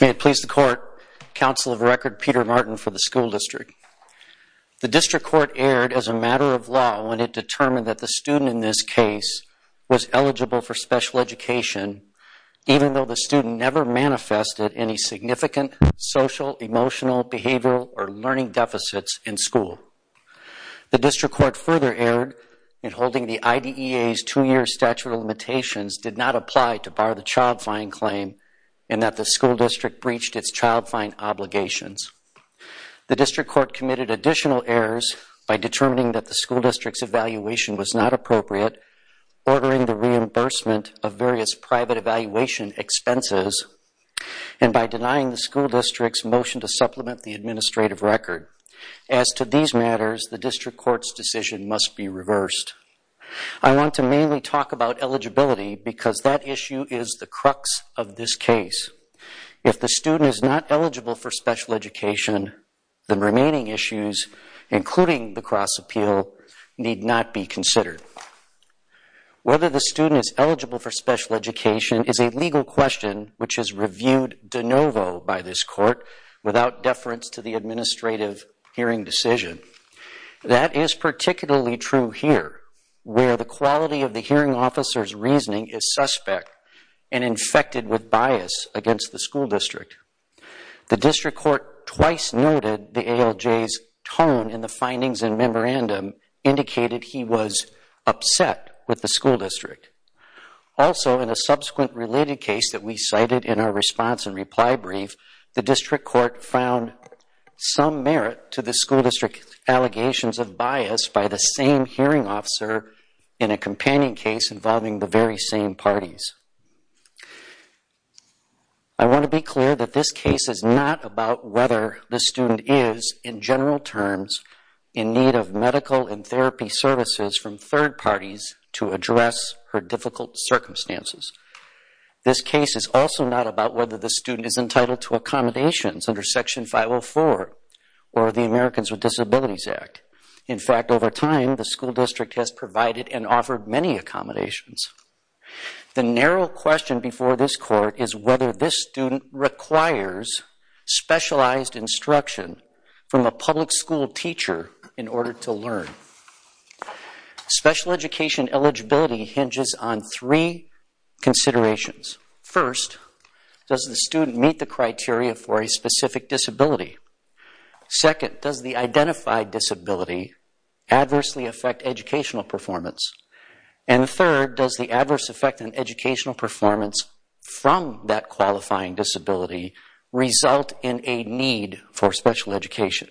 May it please the Court, Council of Record, Peter Martin for the School District. The District Court erred as a matter of law when it determined that the student in this case was eligible for special education even though the student never manifested any significant social, emotional, behavioral, or learning deficits in school. The District Court further erred in holding the IDEA's two-year statute of limitations did not apply to bar the child-fine claim and that the School District breached its child-fine obligations. The District Court committed additional errors by determining that the School District's evaluation was not appropriate, ordering the reimbursement of various private evaluation expenses, and by denying the School District's motion to supplement the administrative record. As to these matters, the District Court's decision must be reversed. I want to mainly talk about eligibility because that issue is the crux of this case. If the student is not eligible for special education, the remaining issues, including the cross-appeal, need not be considered. Whether the student is eligible for special education is a legal question which is reviewed de novo by this Court without deference to the administrative hearing decision. That is particularly true here, where the quality of the hearing officer's reasoning is suspect and infected with bias against the School District. The District Court twice noted the ALJ's tone in the findings and memorandum indicated he was upset with the School District. Also in a subsequent related case that we cited in our response and reply brief, the allegations of bias by the same hearing officer in a companion case involving the very same parties. I want to be clear that this case is not about whether the student is, in general terms, in need of medical and therapy services from third parties to address her difficult circumstances. This case is also not about whether the student is entitled to accommodations under Section 504 or the Americans with Disabilities Act. In fact, over time, the School District has provided and offered many accommodations. The narrow question before this Court is whether this student requires specialized instruction from a public school teacher in order to learn. Special education eligibility hinges on three considerations. First, does the student meet the criteria for a specific disability? Second, does the identified disability adversely affect educational performance? And third, does the adverse effect on educational performance from that qualifying disability result in a need for special education?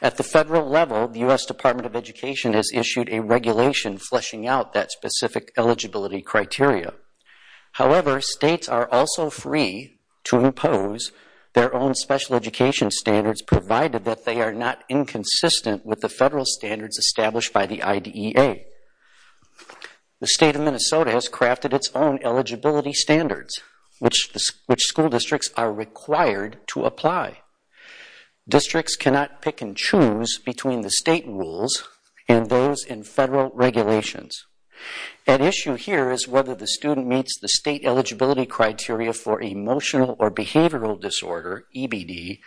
At the federal level, the U.S. Department of Education has issued a regulation fleshing out that specific eligibility criteria. However, states are also free to impose their own special education standards provided that they are not inconsistent with the federal standards established by the IDEA. The State of Minnesota has crafted its own eligibility standards, which school districts are required to apply. Districts cannot pick and choose between the state rules and those in federal regulations. At issue here is whether the student meets the state eligibility criteria for emotional or behavioral disorder, EBD,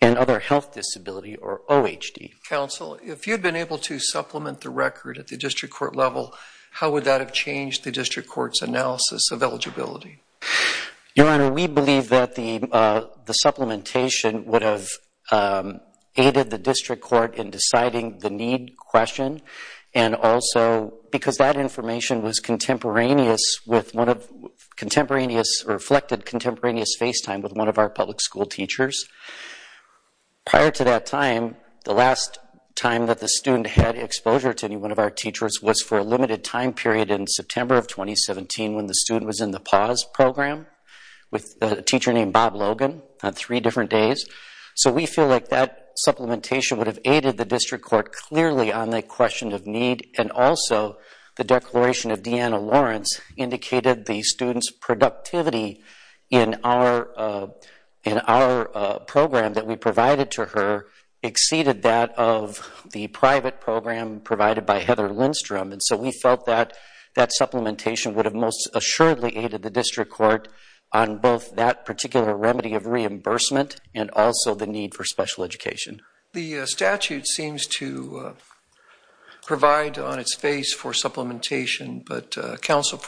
and other health disability, or OHD. Counsel, if you'd been able to supplement the record at the district court level, how would that have changed the district court's analysis of eligibility? Your Honor, we believe that the supplementation would have aided the district court in deciding the need question and also because that information was contemporaneous with one of, contemporaneous, reflected contemporaneous face time with one of our public school teachers. Prior to that time, the last time that the student had exposure to any one of our teachers was for a limited time period in September of 2017 when the student was in the PAWS program with a teacher named Bob Logan on three different days. So, we feel like that supplementation would have aided the district court clearly on the question of need and also the declaration of Deanna Lawrence indicated the student's productivity in our program that we provided to her exceeded that of the private program provided by Heather Lindstrom. And so, we felt that that supplementation would have most assuredly aided the district court on both that particular remedy of reimbursement and also the need for special education. The statute seems to provide on its face for supplementation, but counsel,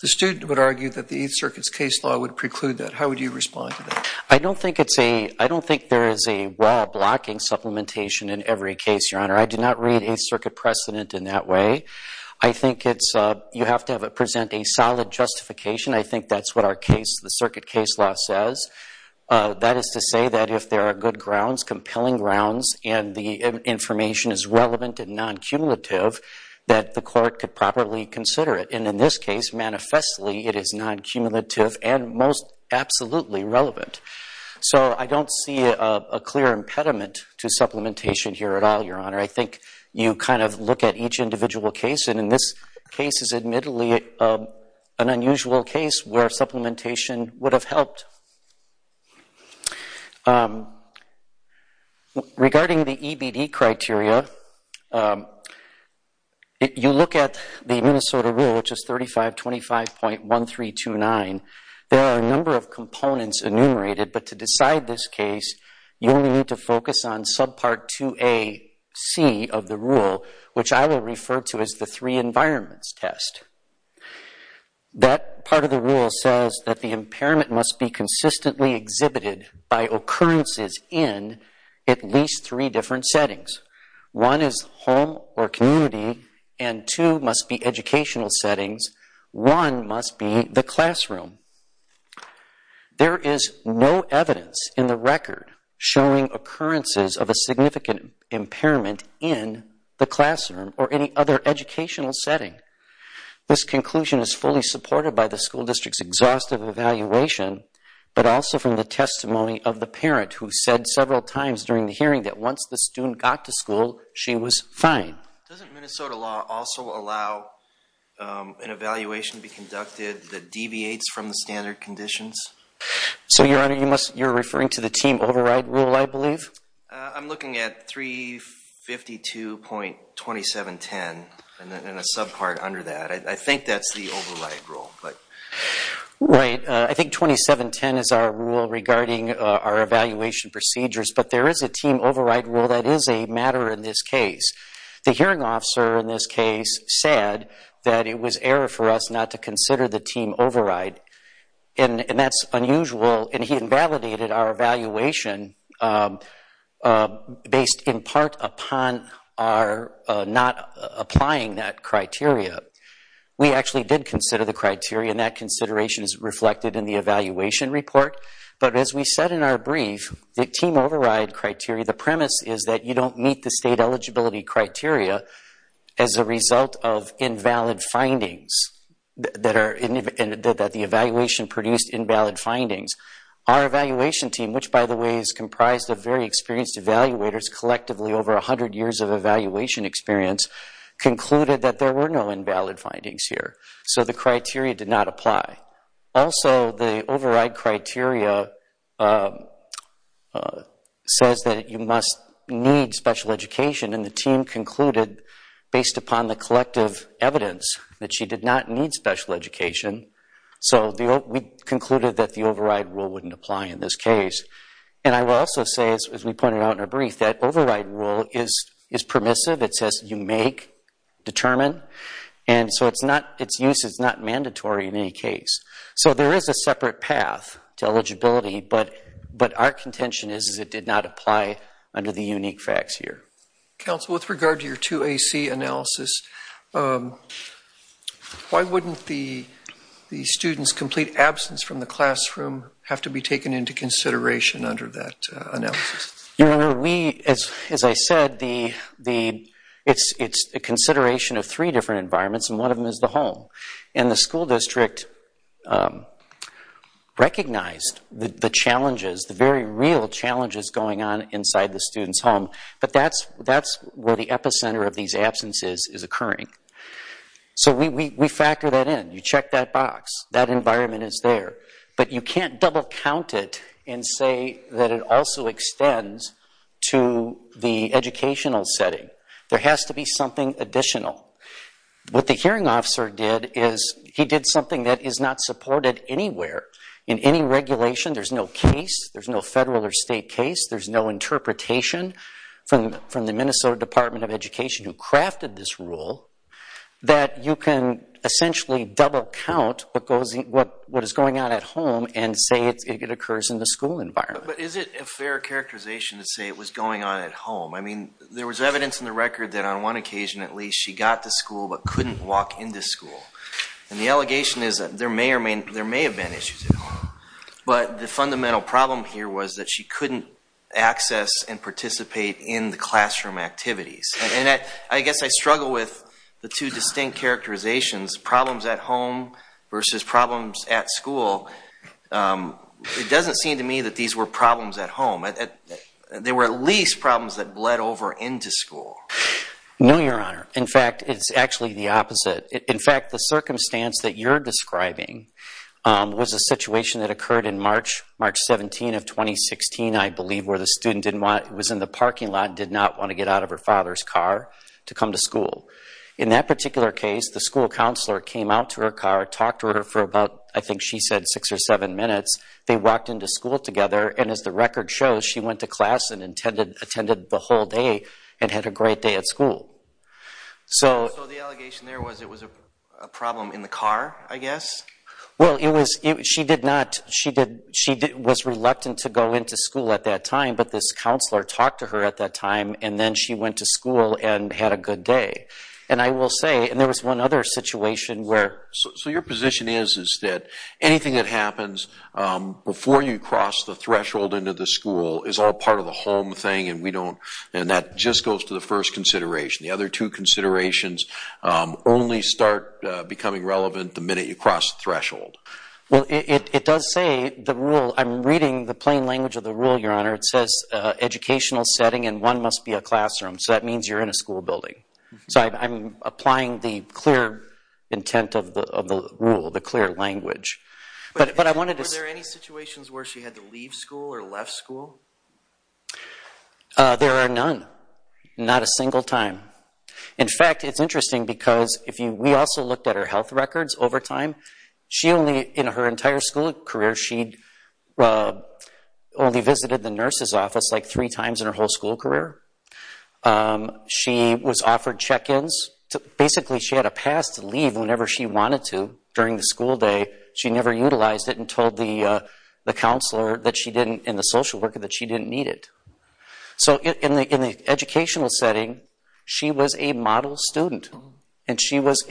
the student would argue that the Eighth Circuit's case law would preclude that. How would you respond to that? I don't think there is a law blocking supplementation in every case, Your Honor. I do not read Eighth Circuit precedent in that way. I think you have to present a solid justification. I think that's what the Circuit case law says. That is to say that if there are good grounds, compelling grounds, and the information is relevant and non-cumulative, that the court could properly consider it. And in this case, manifestly, it is non-cumulative and most absolutely relevant. So, I don't see a clear impediment to supplementation here at all, Your Honor. I think you kind of look at each individual case, and in this case is admittedly an unusual case where supplementation would have helped. Regarding the EBD criteria, you look at the Minnesota rule, which is 3525.1329. There are a number of components enumerated, but to decide this case, you only need to see of the rule, which I will refer to as the three environments test. That part of the rule says that the impairment must be consistently exhibited by occurrences in at least three different settings. One is home or community, and two must be educational settings. One must be the classroom. There is no evidence in the record showing occurrences of a significant impairment in the classroom or any other educational setting. This conclusion is fully supported by the school district's exhaustive evaluation, but also from the testimony of the parent who said several times during the hearing that once the student got to school, she was fine. Doesn't Minnesota law also allow an evaluation to be conducted that deviates from the standard conditions? So, Your Honor, you're referring to the team override rule, I believe? I'm looking at 352.2710 and a subpart under that. I think that's the override rule. Right. I think 2710 is our rule regarding our evaluation procedures, but there is a team override rule that is a matter in this case. The hearing officer in this case said that it was error for us not to consider the team override, and that's unusual, and he invalidated our evaluation based in part upon our not applying that criteria. We actually did consider the criteria, and that consideration is reflected in the evaluation report, but as we said in our brief, the team override criteria, the premise is that you don't meet the state eligibility criteria as a result of invalid findings, that the evaluation produced invalid findings. Our evaluation team, which, by the way, is comprised of very experienced evaluators, collectively over 100 years of evaluation experience, concluded that there were no invalid findings here, so the criteria did not apply. Also, the override criteria says that you must need special education, and the team concluded based upon the collective evidence that she did not need special education, so we concluded that the override rule wouldn't apply in this case. And I will also say, as we pointed out in our brief, that override rule is permissive. It says you make, determine, and so its use is not mandatory in any case. So there is a separate path to eligibility, but our contention is it did not apply under the unique facts here. Counsel, with regard to your 2AC analysis, why wouldn't the students' complete absence from the classroom have to be taken into consideration under that analysis? Your Honor, as I said, it's a consideration of three different environments, and one of them is the home. And the school district recognized the challenges, the very real challenges going on inside the student's home, but that's where the epicenter of these absences is occurring. So we factor that in. You check that box. That environment is there. But you can't double count it and say that it also extends to the educational setting. There has to be something additional. What the hearing officer did is he did something that is not supported anywhere. In any regulation, there's no case. There's no federal or state case. There's no interpretation from the Minnesota Department of Education who crafted this rule that you can essentially double count what is going on at home and say it occurs in the school environment. But is it a fair characterization to say it was going on at home? I mean, there was evidence in the record that on one occasion at least she got to school but couldn't walk into school. And the allegation is that there may have been issues at home, but the fundamental problem here was that she couldn't access and participate in the classroom activities. And I guess I struggle with the two distinct characterizations, problems at home versus problems at school. It doesn't seem to me that these were problems at home. They were at least problems that bled over into school. No, Your Honor. In fact, it's actually the opposite. In fact, the circumstance that you're describing was a situation that occurred in March, March 17 of 2016, I believe, where the student was in the parking lot and did not want to get out of her father's car to come to school. In that particular case, the school counselor came out to her car, talked to her for about, I think she said, six or seven minutes. They walked into school together, and as the record shows, she went to class and attended the whole day and had a great day at school. So the allegation there was it was a problem in the car, I guess? Well, she was reluctant to go into school at that time, but this counselor talked to her at that time, and then she went to school and had a good day. And I will say, and there was one other situation where... So your position is that anything that happens before you cross the threshold into the school is all part of the home thing, and that just goes to the first consideration. The other two considerations only start becoming relevant the minute you cross the threshold. Well, it does say the rule... I'm reading the plain language of the rule, Your Honor. It says educational setting and one must be a classroom, so that means you're in a school building. So I'm applying the clear intent of the rule, the clear language. Were there any situations where she had to leave school or left school? There are none, not a single time. In fact, it's interesting because we also looked at her health records over time. In her entire school career, she only visited the nurse's office like three times in her whole school career. She was offered check-ins. Basically, she had a pass to leave whenever she wanted to during the school day. She never utilized it and told the counselor and the social worker that she didn't need it. So in the educational setting, she was a model student, and she is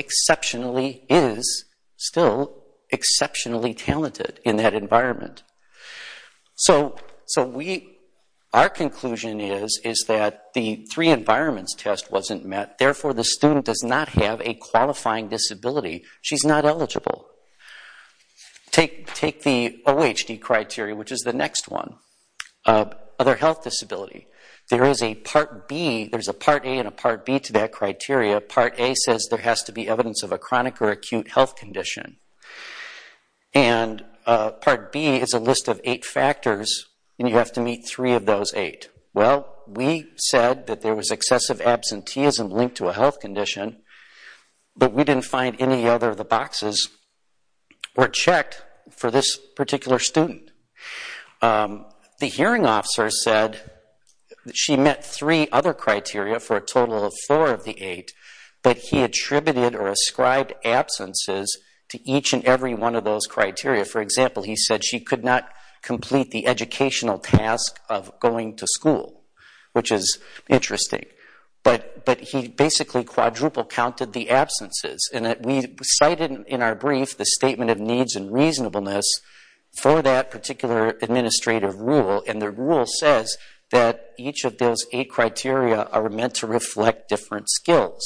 still exceptionally talented in that environment. So our conclusion is that the three environments test wasn't met. Therefore, the student does not have a qualifying disability. She's not eligible. Take the OHD criteria, which is the next one, other health disability. There is a Part A and a Part B to that criteria. Part A says there has to be evidence of a chronic or acute health condition. And Part B is a list of eight factors, and you have to meet three of those eight. Well, we said that there was excessive absenteeism linked to a health condition, but we didn't find any other of the boxes were checked for this particular student. The hearing officer said she met three other criteria for a total of four of the eight, but he attributed or ascribed absences to each and every one of those criteria. For example, he said she could not complete the educational task of going to school, which is interesting. But he basically quadruple-counted the absences. We cited in our brief the statement of needs and reasonableness for that particular administrative rule, and the rule says that each of those eight criteria are meant to reflect different skills.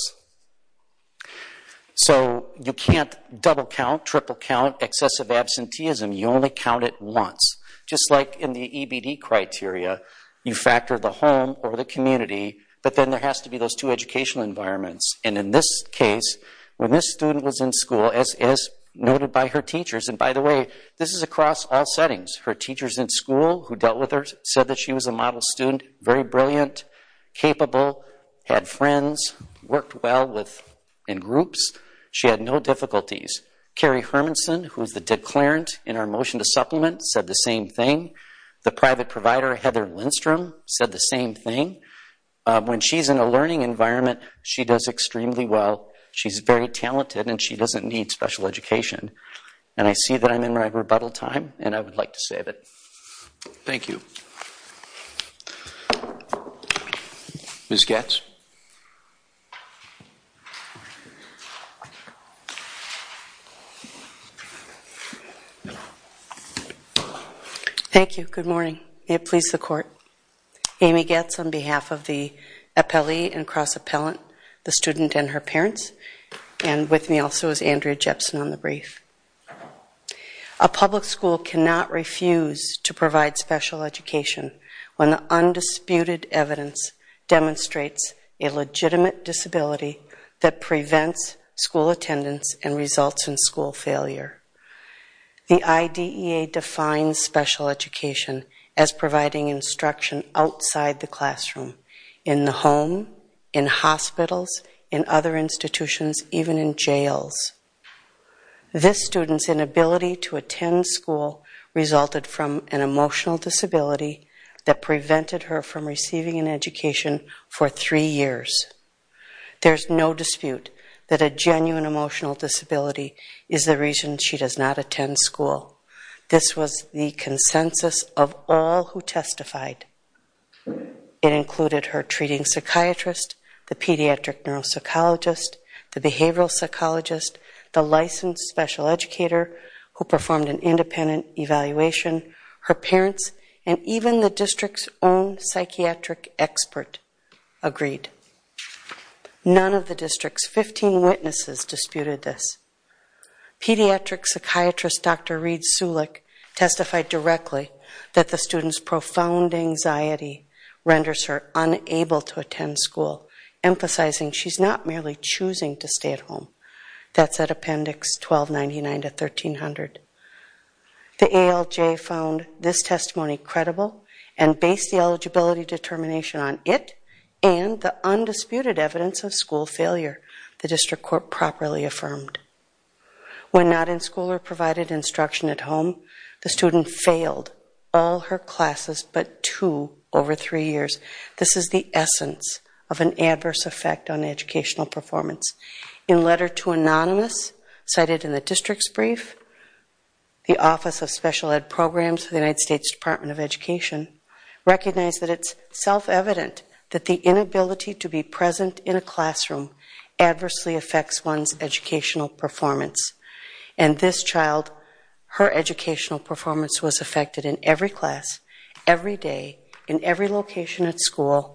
So you can't double-count, triple-count excessive absenteeism. You only count it once. Just like in the EBD criteria, you factor the home or the community, but then there has to be those two educational environments. And in this case, when this student was in school, as noted by her teachers, and by the way, this is across all settings. Her teachers in school who dealt with her said that she was a model student, very brilliant, capable, had friends, worked well in groups. She had no difficulties. Carrie Hermanson, who is the declarant in our motion to supplement, said the same thing. The private provider, Heather Lindstrom, said the same thing. When she's in a learning environment, she does extremely well. She's very talented, and she doesn't need special education. And I see that I'm in my rebuttal time, and I would like to save it. Thank you. Ms. Goetz? May it please the Court. Amy Goetz on behalf of the appellee and cross-appellant, the student and her parents, and with me also is Andrea Jepson on the brief. A public school cannot refuse to provide special education when the undisputed evidence demonstrates a legitimate disability that prevents school attendance and results in school failure. The IDEA defines special education as providing instruction outside the classroom, in the home, in hospitals, in other institutions, even in jails. This student's inability to attend school resulted from an emotional disability that prevented her from receiving an education for three years. There's no dispute that a genuine emotional disability is the reason she does not attend school. This was the consensus of all who testified. It included her treating psychiatrist, the pediatric neuropsychologist, the behavioral psychologist, the licensed special educator who performed an independent evaluation, her parents, and even the district's own psychiatric expert agreed. None of the district's 15 witnesses disputed this. Pediatric psychiatrist Dr. Reed Sulek testified directly that the student's profound anxiety renders her unable to attend school, emphasizing she's not merely choosing to stay at home. That's at Appendix 1299 to 1300. The ALJ found this testimony credible and based the eligibility determination on it and the undisputed evidence of school failure the district court properly affirmed. When not in school or provided instruction at home, the student failed all her classes but two over three years. This is the essence of an adverse effect on educational performance. In Letter to Anonymous, cited in the district's brief, the Office of Special Ed. Programs of the United States Department of Education recognized that it's self-evident that the inability to be present in a classroom adversely affects one's educational performance. And this child, her educational performance was affected in every class, every day, in every location at school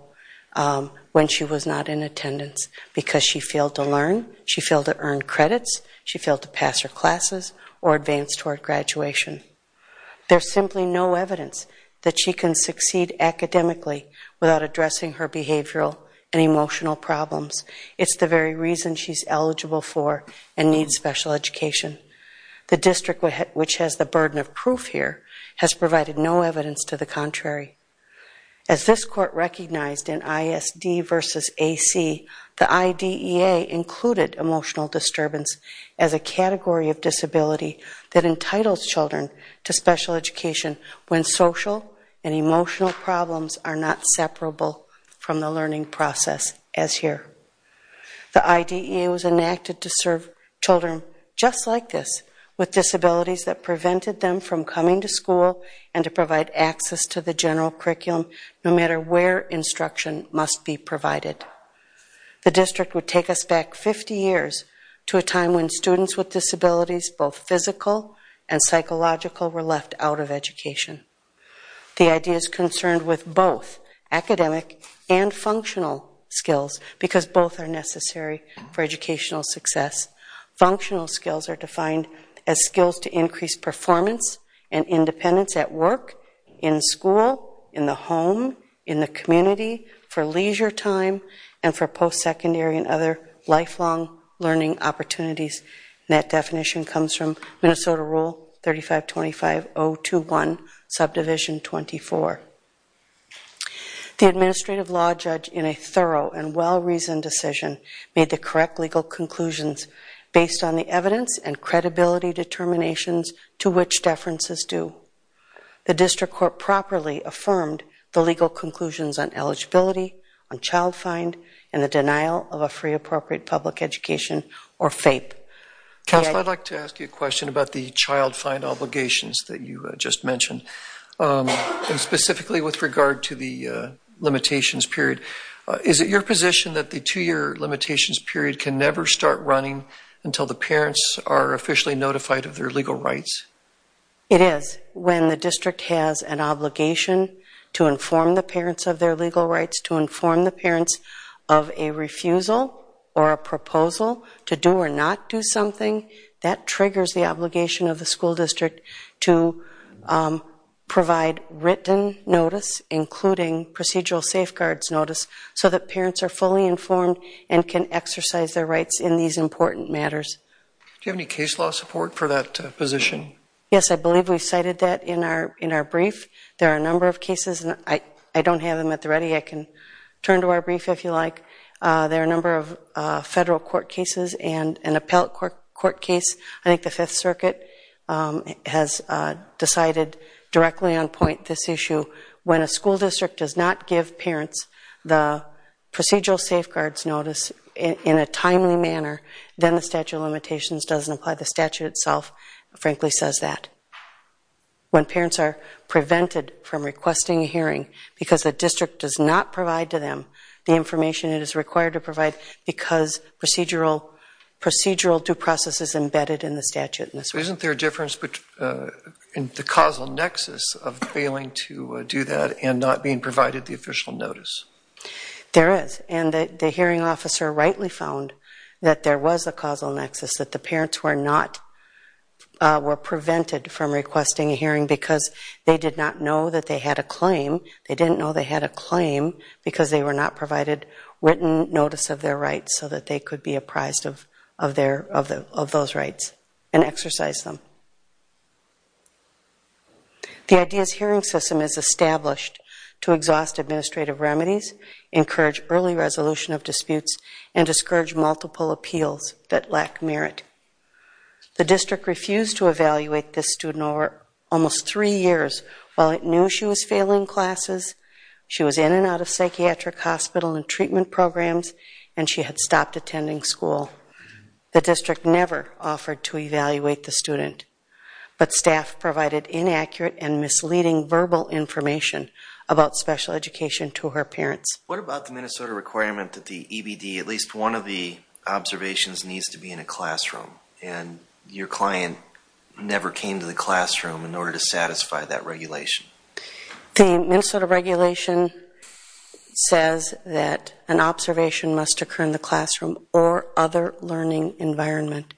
when she was not in attendance because she failed to learn, she failed to earn credits, she failed to pass her classes or advance toward graduation. There's simply no evidence that she can succeed academically without addressing her behavioral and emotional problems. It's the very reason she's eligible for and needs special education. The district which has the burden of proof here has provided no evidence to the contrary. As this court recognized in ISD versus AC, the IDEA included emotional disturbance as a category of disability that entitles children to special education when social and emotional problems are not separable from the learning process as here. The IDEA was enacted to serve children just like this with disabilities that prevented them from coming to school and to provide access to the general curriculum no matter where instruction must be provided. The district would take us back 50 years to a time when students with disabilities, both physical and psychological, were left out of education. The IDEA is concerned with both academic and functional skills because both are necessary for educational success. Functional skills are defined as skills to increase performance and independence at work, in school, in the home, in the community, for leisure time, and for post-secondary and other lifelong learning opportunities. And that definition comes from Minnesota Rule 3525.021, Subdivision 24. The administrative law judge in a thorough and well-reasoned decision made the correct legal conclusions based on the evidence and credibility determinations to which deferences do. The district court properly affirmed the legal conclusions on eligibility, on child find, and the denial of a free appropriate public education, or FAPE. Counsel, I'd like to ask you a question about the child find obligations that you just mentioned. And specifically with regard to the limitations period. Is it your position that the two-year limitations period can never start running until the parents are officially notified of their legal rights? It is. When the district has an obligation to inform the parents of their legal rights, to inform the parents of a refusal or a proposal to do or not do something, that triggers the obligation of the school district to provide written notice, including procedural safeguards notice, so that parents are fully informed and can exercise their rights in these important matters. Do you have any case law support for that position? Yes, I believe we cited that in our brief. There are a number of cases, and I don't have them at the ready. I can turn to our brief if you like. There are a number of federal court cases and an appellate court case. I think the Fifth Circuit has decided directly on point this issue. When a school district does not give parents the procedural safeguards notice in a timely manner, then the statute of limitations doesn't apply. The statute itself, frankly, says that. When parents are prevented from requesting a hearing because the district does not provide to them the information it is required to provide because procedural due process is embedded in the statute. Isn't there a difference in the causal nexus of failing to do that and not being provided the official notice? There is, and the hearing officer rightly found that there was a causal nexus, that the parents were prevented from requesting a hearing because they did not know that they had a claim. They didn't know they had a claim because they were not provided written notice of their rights so that they could be apprised of those rights and exercise them. The IDEAS hearing system is established to exhaust administrative remedies, encourage early resolution of disputes, and discourage multiple appeals that lack merit. The district refused to evaluate this student over almost three years while it knew she was failing classes, she was in and out of psychiatric hospital and treatment programs, and she had stopped attending school. The district never offered to evaluate the student, but staff provided inaccurate and misleading verbal information about special education to her parents. What about the Minnesota requirement that the EBD, at least one of the observations, needs to be in a classroom and your client never came to the classroom in order to satisfy that regulation? The Minnesota regulation says that an observation must occur in the classroom or other learning environment.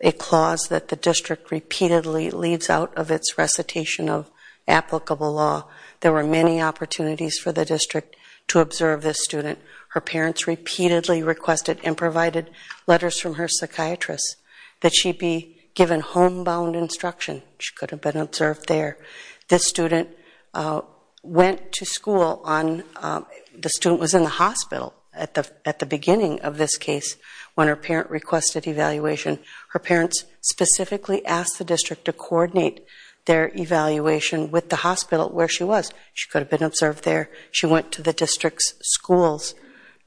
A clause that the district repeatedly leaves out of its recitation of applicable law. There were many opportunities for the district to observe this student. Her parents repeatedly requested and provided letters from her psychiatrist that she be given homebound instruction, she could have been observed there. This student went to school on, the student was in the hospital at the beginning of this case when her parent requested evaluation. Her parents specifically asked the district to coordinate their evaluation with the hospital where she was. She could have been observed there. She went to the district's schools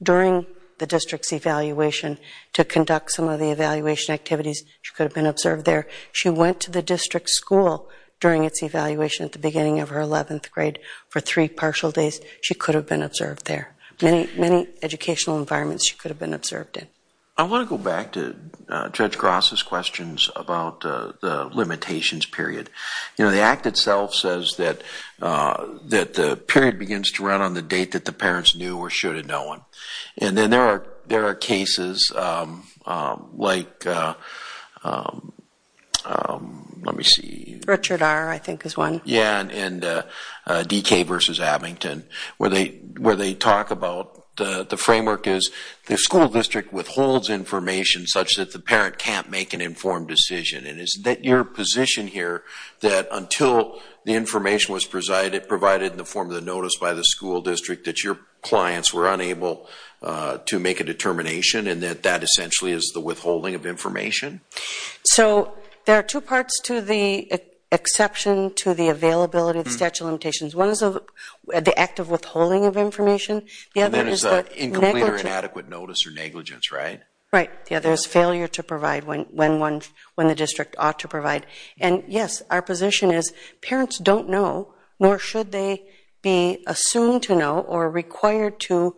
during the district's evaluation to conduct some of the evaluation activities. She could have been observed there. She went to the district's school during its evaluation at the beginning of her 11th grade for three partial days. She could have been observed there. Many educational environments she could have been observed in. I want to go back to Judge Gross' questions about the limitations period. The Act itself says that the period begins to run on the date that the parents knew or should have known. There are cases like, let me see, Richard R. I think is one. Yeah, and DK versus Abington where they talk about the framework is the school district withholds information such that the parent can't make an informed decision. Is it your position here that until the information was provided in the form of the notice by the school district that your clients were unable to make a determination and that that essentially is the withholding of information? So there are two parts to the exception to the availability of the statute of limitations. One is the act of withholding of information. The other is incomplete or inadequate notice or negligence, right? Right. The other is failure to provide when the district ought to provide. And, yes, our position is parents don't know, nor should they be assumed to know or required to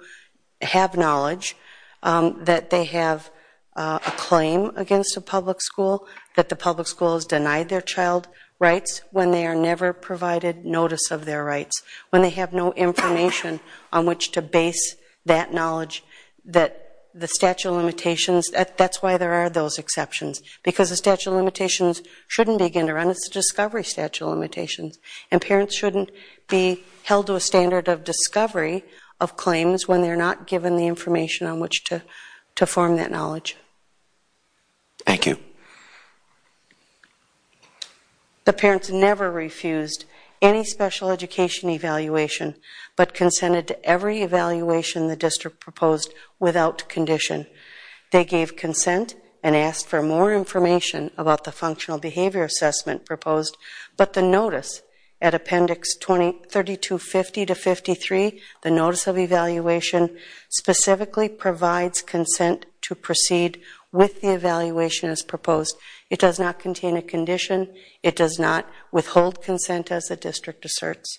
have knowledge that they have a claim against a public school, that the public school has denied their child rights when they are never provided notice of their rights, when they have no information on which to base that knowledge that the statute of limitations, that's why there are those exceptions because the statute of limitations shouldn't begin to run. It's a discovery statute of limitations. And parents shouldn't be held to a standard of discovery of claims when they're not given the information on which to form that knowledge. Thank you. The parents never refused any special education evaluation but consented to every evaluation the district proposed without condition. They gave consent and asked for more information about the functional behavior assessment proposed, but the notice at appendix 3250 to 53, the notice of evaluation, specifically provides consent to proceed with the evaluation as proposed. It does not contain a condition. It does not withhold consent as the district asserts.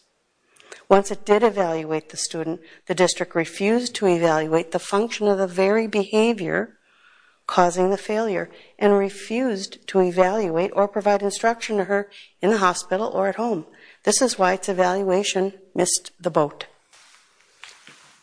Once it did evaluate the student, the district refused to evaluate the function of the very behavior causing the failure and refused to evaluate or provide instruction to her in the hospital or at home. This is why its evaluation missed the boat.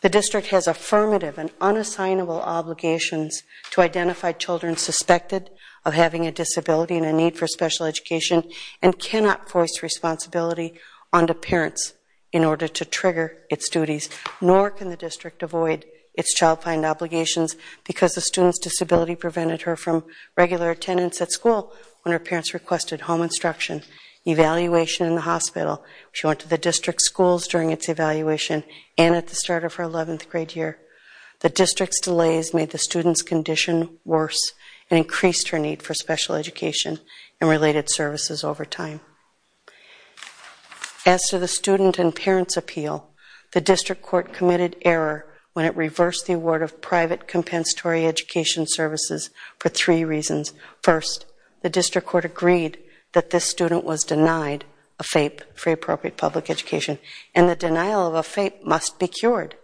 The district has affirmative and unassignable obligations to identify children suspected of having a disability and a need for special education and cannot force responsibility onto parents in order to trigger its duties. Nor can the district avoid its child find obligations because the student's disability prevented her from regular attendance at school when her parents requested home instruction, evaluation in the hospital. She went to the district schools during its evaluation and at the start of her 11th grade year. The district's delays made the student's condition worse and increased her need for special education and related services over time. As to the student and parents appeal, the district court committed error when it reversed the award of private compensatory education services for three reasons. First, the district court agreed that this student was denied a FAPE, free appropriate public education, and the denial of a FAPE must be cured.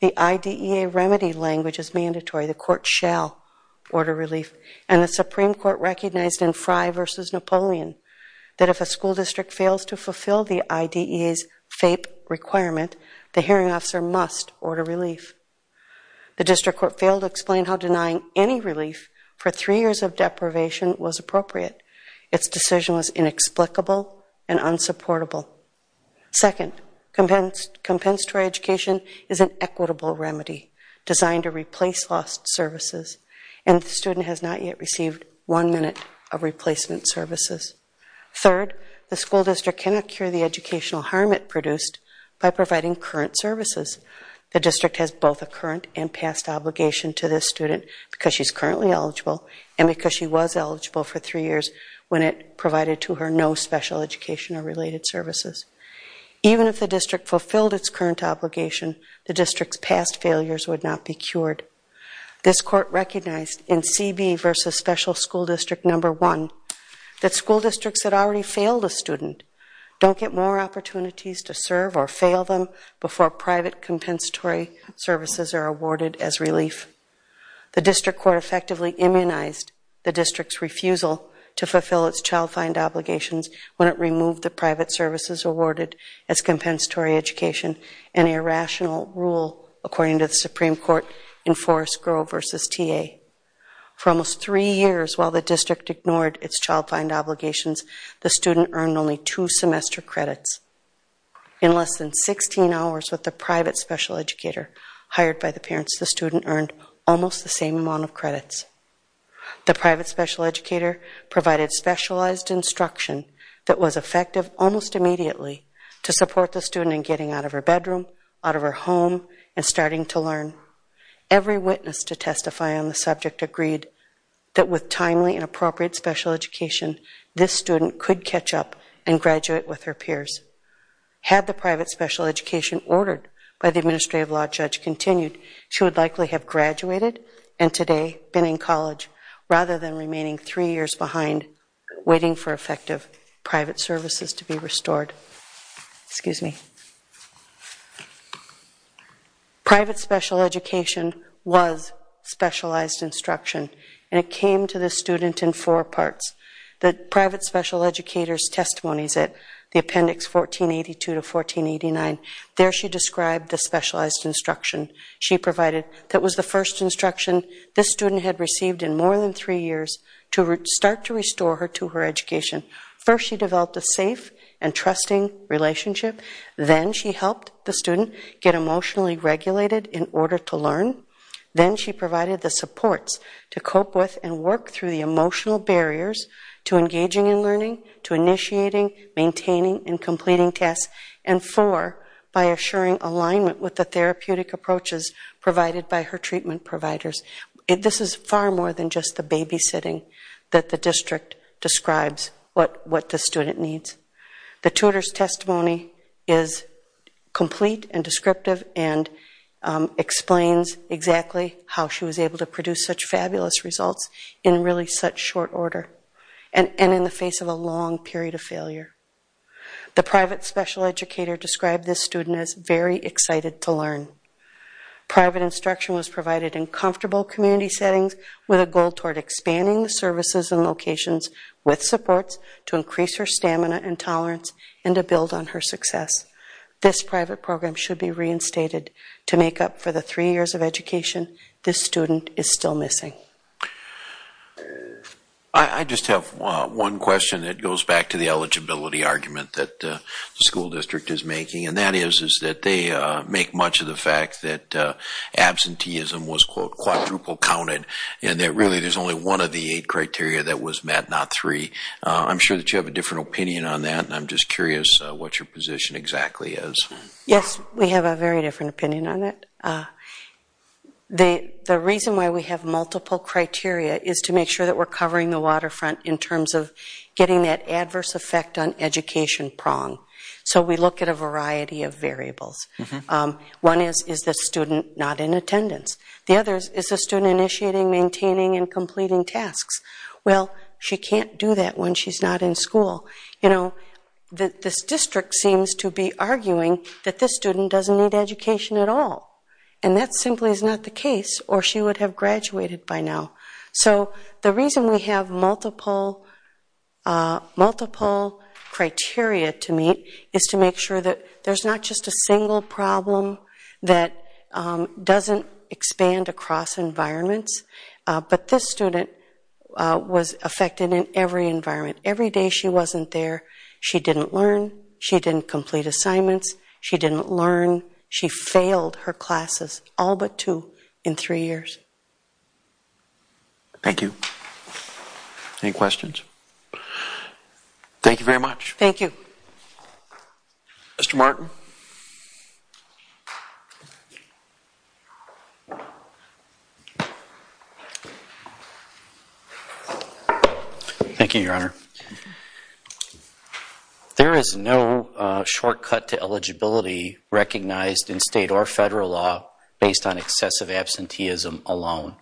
The IDEA remedy language is mandatory. The court shall order relief. And the Supreme Court recognized in Frye v. Napoleon that if a school district fails to fulfill the IDEA's FAPE requirement, the hearing officer must order relief. The district court failed to explain how denying any relief for three years of deprivation was appropriate. Its decision was inexplicable and unsupportable. Second, compensatory education is an equitable remedy designed to replace lost services, and the student has not yet received one minute of replacement services. Third, the school district cannot cure the educational harm it produced by providing current services. The district has both a current and past obligation to this student because she's currently eligible and because she was eligible for three years when it provided to her no special education or related services. Even if the district fulfilled its current obligation, the district's past failures would not be cured. This court recognized in CB v. Special School District No. 1 that school districts that already failed a student don't get more opportunities to serve or fail them before private compensatory services are awarded as relief. The district court effectively immunized the district's refusal to fulfill its child-fined obligations when it removed the private services awarded as compensatory education and irrational rule, according to the Supreme Court in Forrest Grove v. TA. For almost three years while the district ignored its child-fined obligations, the student earned only two semester credits. In less than 16 hours with the private special educator hired by the parents, the student earned almost the same amount of credits. The private special educator provided specialized instruction that was effective almost immediately to support the student in getting out of her bedroom, out of her home, and starting to learn. Every witness to testify on the subject agreed that with timely and appropriate special education, this student could catch up and graduate with her peers. Had the private special education ordered by the administrative law judge continued, she would likely have graduated and today been in college rather than remaining three years behind waiting for effective private services to be restored. Excuse me. Private special education was specialized instruction and it came to the student in four parts. The private special educator's testimonies at the appendix 1482 to 1489, there she described the specialized instruction she provided that was the first instruction this student had received in more than three years to start to restore her to her education. First she developed a safe and trusting relationship. Then she helped the student get emotionally regulated in order to learn. Then she provided the supports to cope with and work through the emotional barriers to engaging in learning, to initiating, maintaining, and completing tasks. And four, by assuring alignment with the therapeutic approaches provided by her treatment providers. This is far more than just the babysitting that the district describes what the student needs. The tutor's testimony is complete and descriptive and explains exactly how she was able to produce such fabulous results in really such short order and in the face of a long period of failure. The private special educator described this student as very excited to learn. Private instruction was provided in comfortable community settings with a goal toward expanding the services and locations with supports to increase her stamina and tolerance and to build on her success. This private program should be reinstated to make up for the three years of education this student is still missing. I just have one question that goes back to the eligibility argument that the school district is making. And that is that they make much of the fact that absenteeism was quadruple counted and that really there's only one of the eight criteria that was met, not three. I'm sure that you have a different opinion on that and I'm just curious what your position exactly is. Yes, we have a very different opinion on it. The reason why we have multiple criteria is to make sure that we're covering the waterfront in terms of getting that adverse effect on education prong. So we look at a variety of variables. One is, is the student not in attendance? The other is, is the student initiating, maintaining, and completing tasks? Well, she can't do that when she's not in school. You know, this district seems to be arguing that this student doesn't need education at all. And that simply is not the case or she would have graduated by now. So the reason we have multiple criteria to meet is to make sure that there's not just a single problem that doesn't expand across environments, but this student was affected in every environment. Every day she wasn't there, she didn't learn, she didn't complete assignments, she didn't learn, she failed her classes all but two in three years. Thank you. Any questions? Thank you very much. Thank you. Thank you, Your Honor. There is no shortcut to eligibility recognized in state or federal law based on excessive absenteeism alone.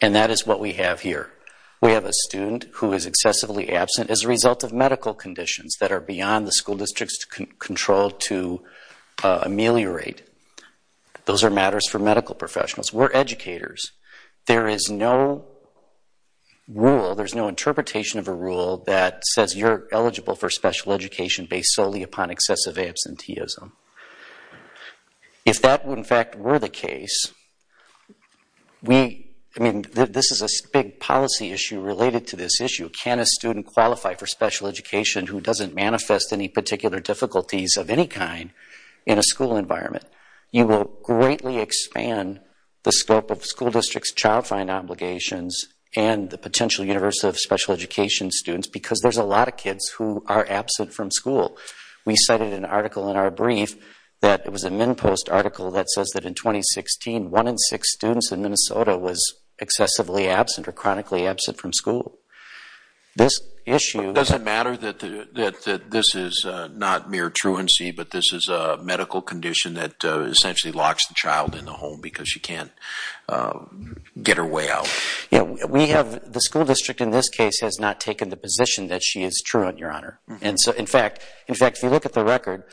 And that is what we have here. We have a student who is excessively absent as a result of medical conditions that are beyond the school district's control to ameliorate. Those are matters for medical professionals. We're educators. There is no rule, there's no interpretation of a rule that says you're eligible for special education based solely upon excessive absenteeism. If that in fact were the case, I mean this is a big policy issue related to this issue. Can a student qualify for special education who doesn't manifest any particular difficulties of any kind in a school environment? You will greatly expand the scope of school district's child find obligations and the potential universe of special education students because there's a lot of kids who are absent from school. We cited an article in our brief that it was a MinnPost article that says that in 2016, one in six students in Minnesota was excessively absent or chronically absent from school. This issue... It doesn't matter that this is not mere truancy, but this is a medical condition that essentially locks the child in the home because she can't get her way out. The school district in this case has not taken the position that she is true, Your Honor. In fact, if you look at the record,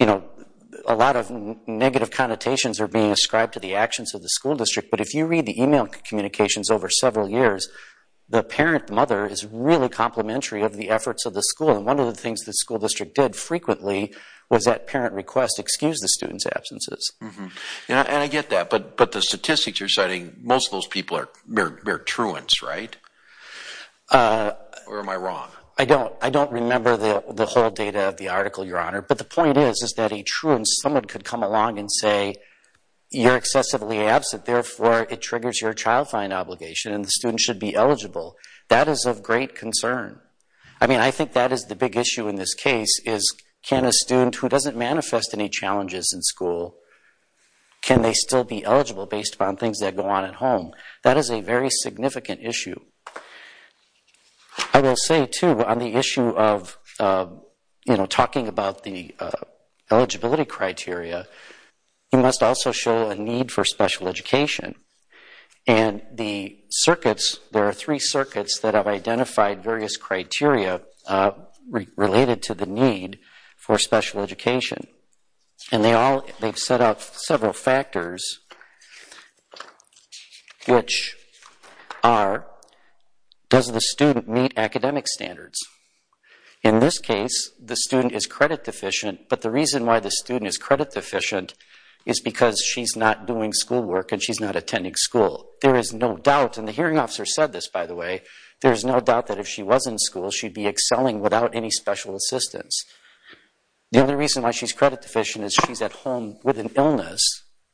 a lot of negative connotations are being ascribed to the actions of the school district, but if you read the email communications over several years, the parent mother is really complimentary of the efforts of the school. And one of the things the school district did frequently was at parent request excuse the students' absences. And I get that, but the statistics you're citing, most of those people are mere truants, right? Or am I wrong? I don't remember the whole data of the article, Your Honor, but the point is that a truant, someone could come along and say, you're excessively absent, therefore it triggers your child find obligation and the student should be eligible. That is of great concern. I mean, I think that is the big issue in this case, is can a student who doesn't manifest any challenges in school, can they still be eligible based upon things that go on at home? That is a very significant issue. I will say, too, on the issue of talking about the eligibility criteria, you must also show a need for special education. And the circuits, there are three circuits that have identified various criteria related to the need for special education. And they've set out several factors, which are, does the student meet academic standards? In this case, the student is credit deficient, but the reason why the student is credit deficient is because she's not doing schoolwork and she's not attending school. There is no doubt, and the hearing officer said this, by the way, there is no doubt that if she was in school, she'd be excelling without any special assistance. The only reason why she's credit deficient is she's at home with an illness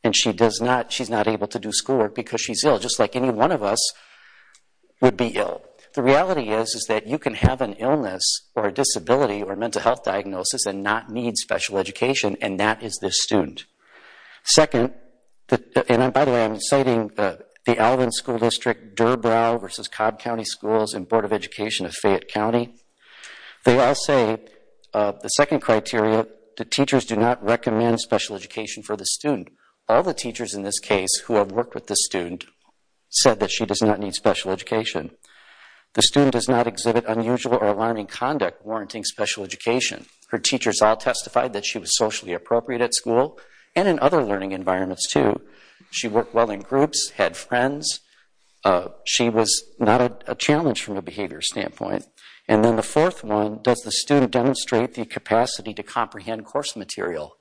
and she's not able to do schoolwork because she's ill, just like any one of us would be ill. The reality is that you can have an illness or a disability or a mental health diagnosis and not need special education, and that is this student. Second, and by the way, I'm citing the Alvin School District, Durbrow versus Cobb County Schools and Board of Education of Fayette County. They all say the second criteria, the teachers do not recommend special education for the student. All the teachers in this case who have worked with this student said that she does not need special education. The student does not exhibit unusual or alarming conduct warranting special education. Her teachers all testified that she was socially appropriate at school and in other learning environments too. She worked well in groups, had friends. She was not a challenge from a behavior standpoint. And then the fourth one, does the student demonstrate the capacity to comprehend course material?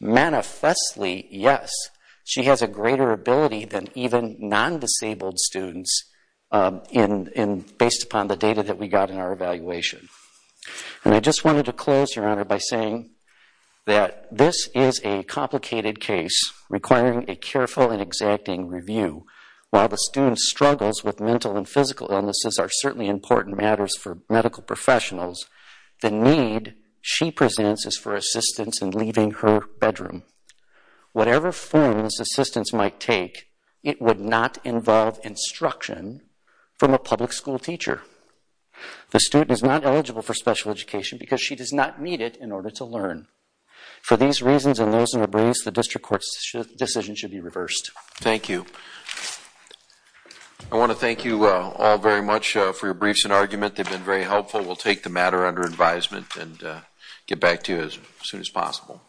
Manifestly, yes. She has a greater ability than even non-disabled students based upon the data that we got in our evaluation. And I just wanted to close, Your Honor, by saying that this is a complicated case requiring a careful and exacting review. While the student struggles with mental and physical illnesses are certainly important matters for medical professionals, the need she presents is for assistance in leaving her bedroom. Whatever forms assistance might take, it would not involve instruction from a public school teacher. The student is not eligible for special education because she does not need it in order to learn. For these reasons and those in abreast, the district court's decision should be reversed. Thank you. I want to thank you all very much for your briefs and argument. They've been very helpful. We'll take the matter under advisement and get back to you as soon as possible.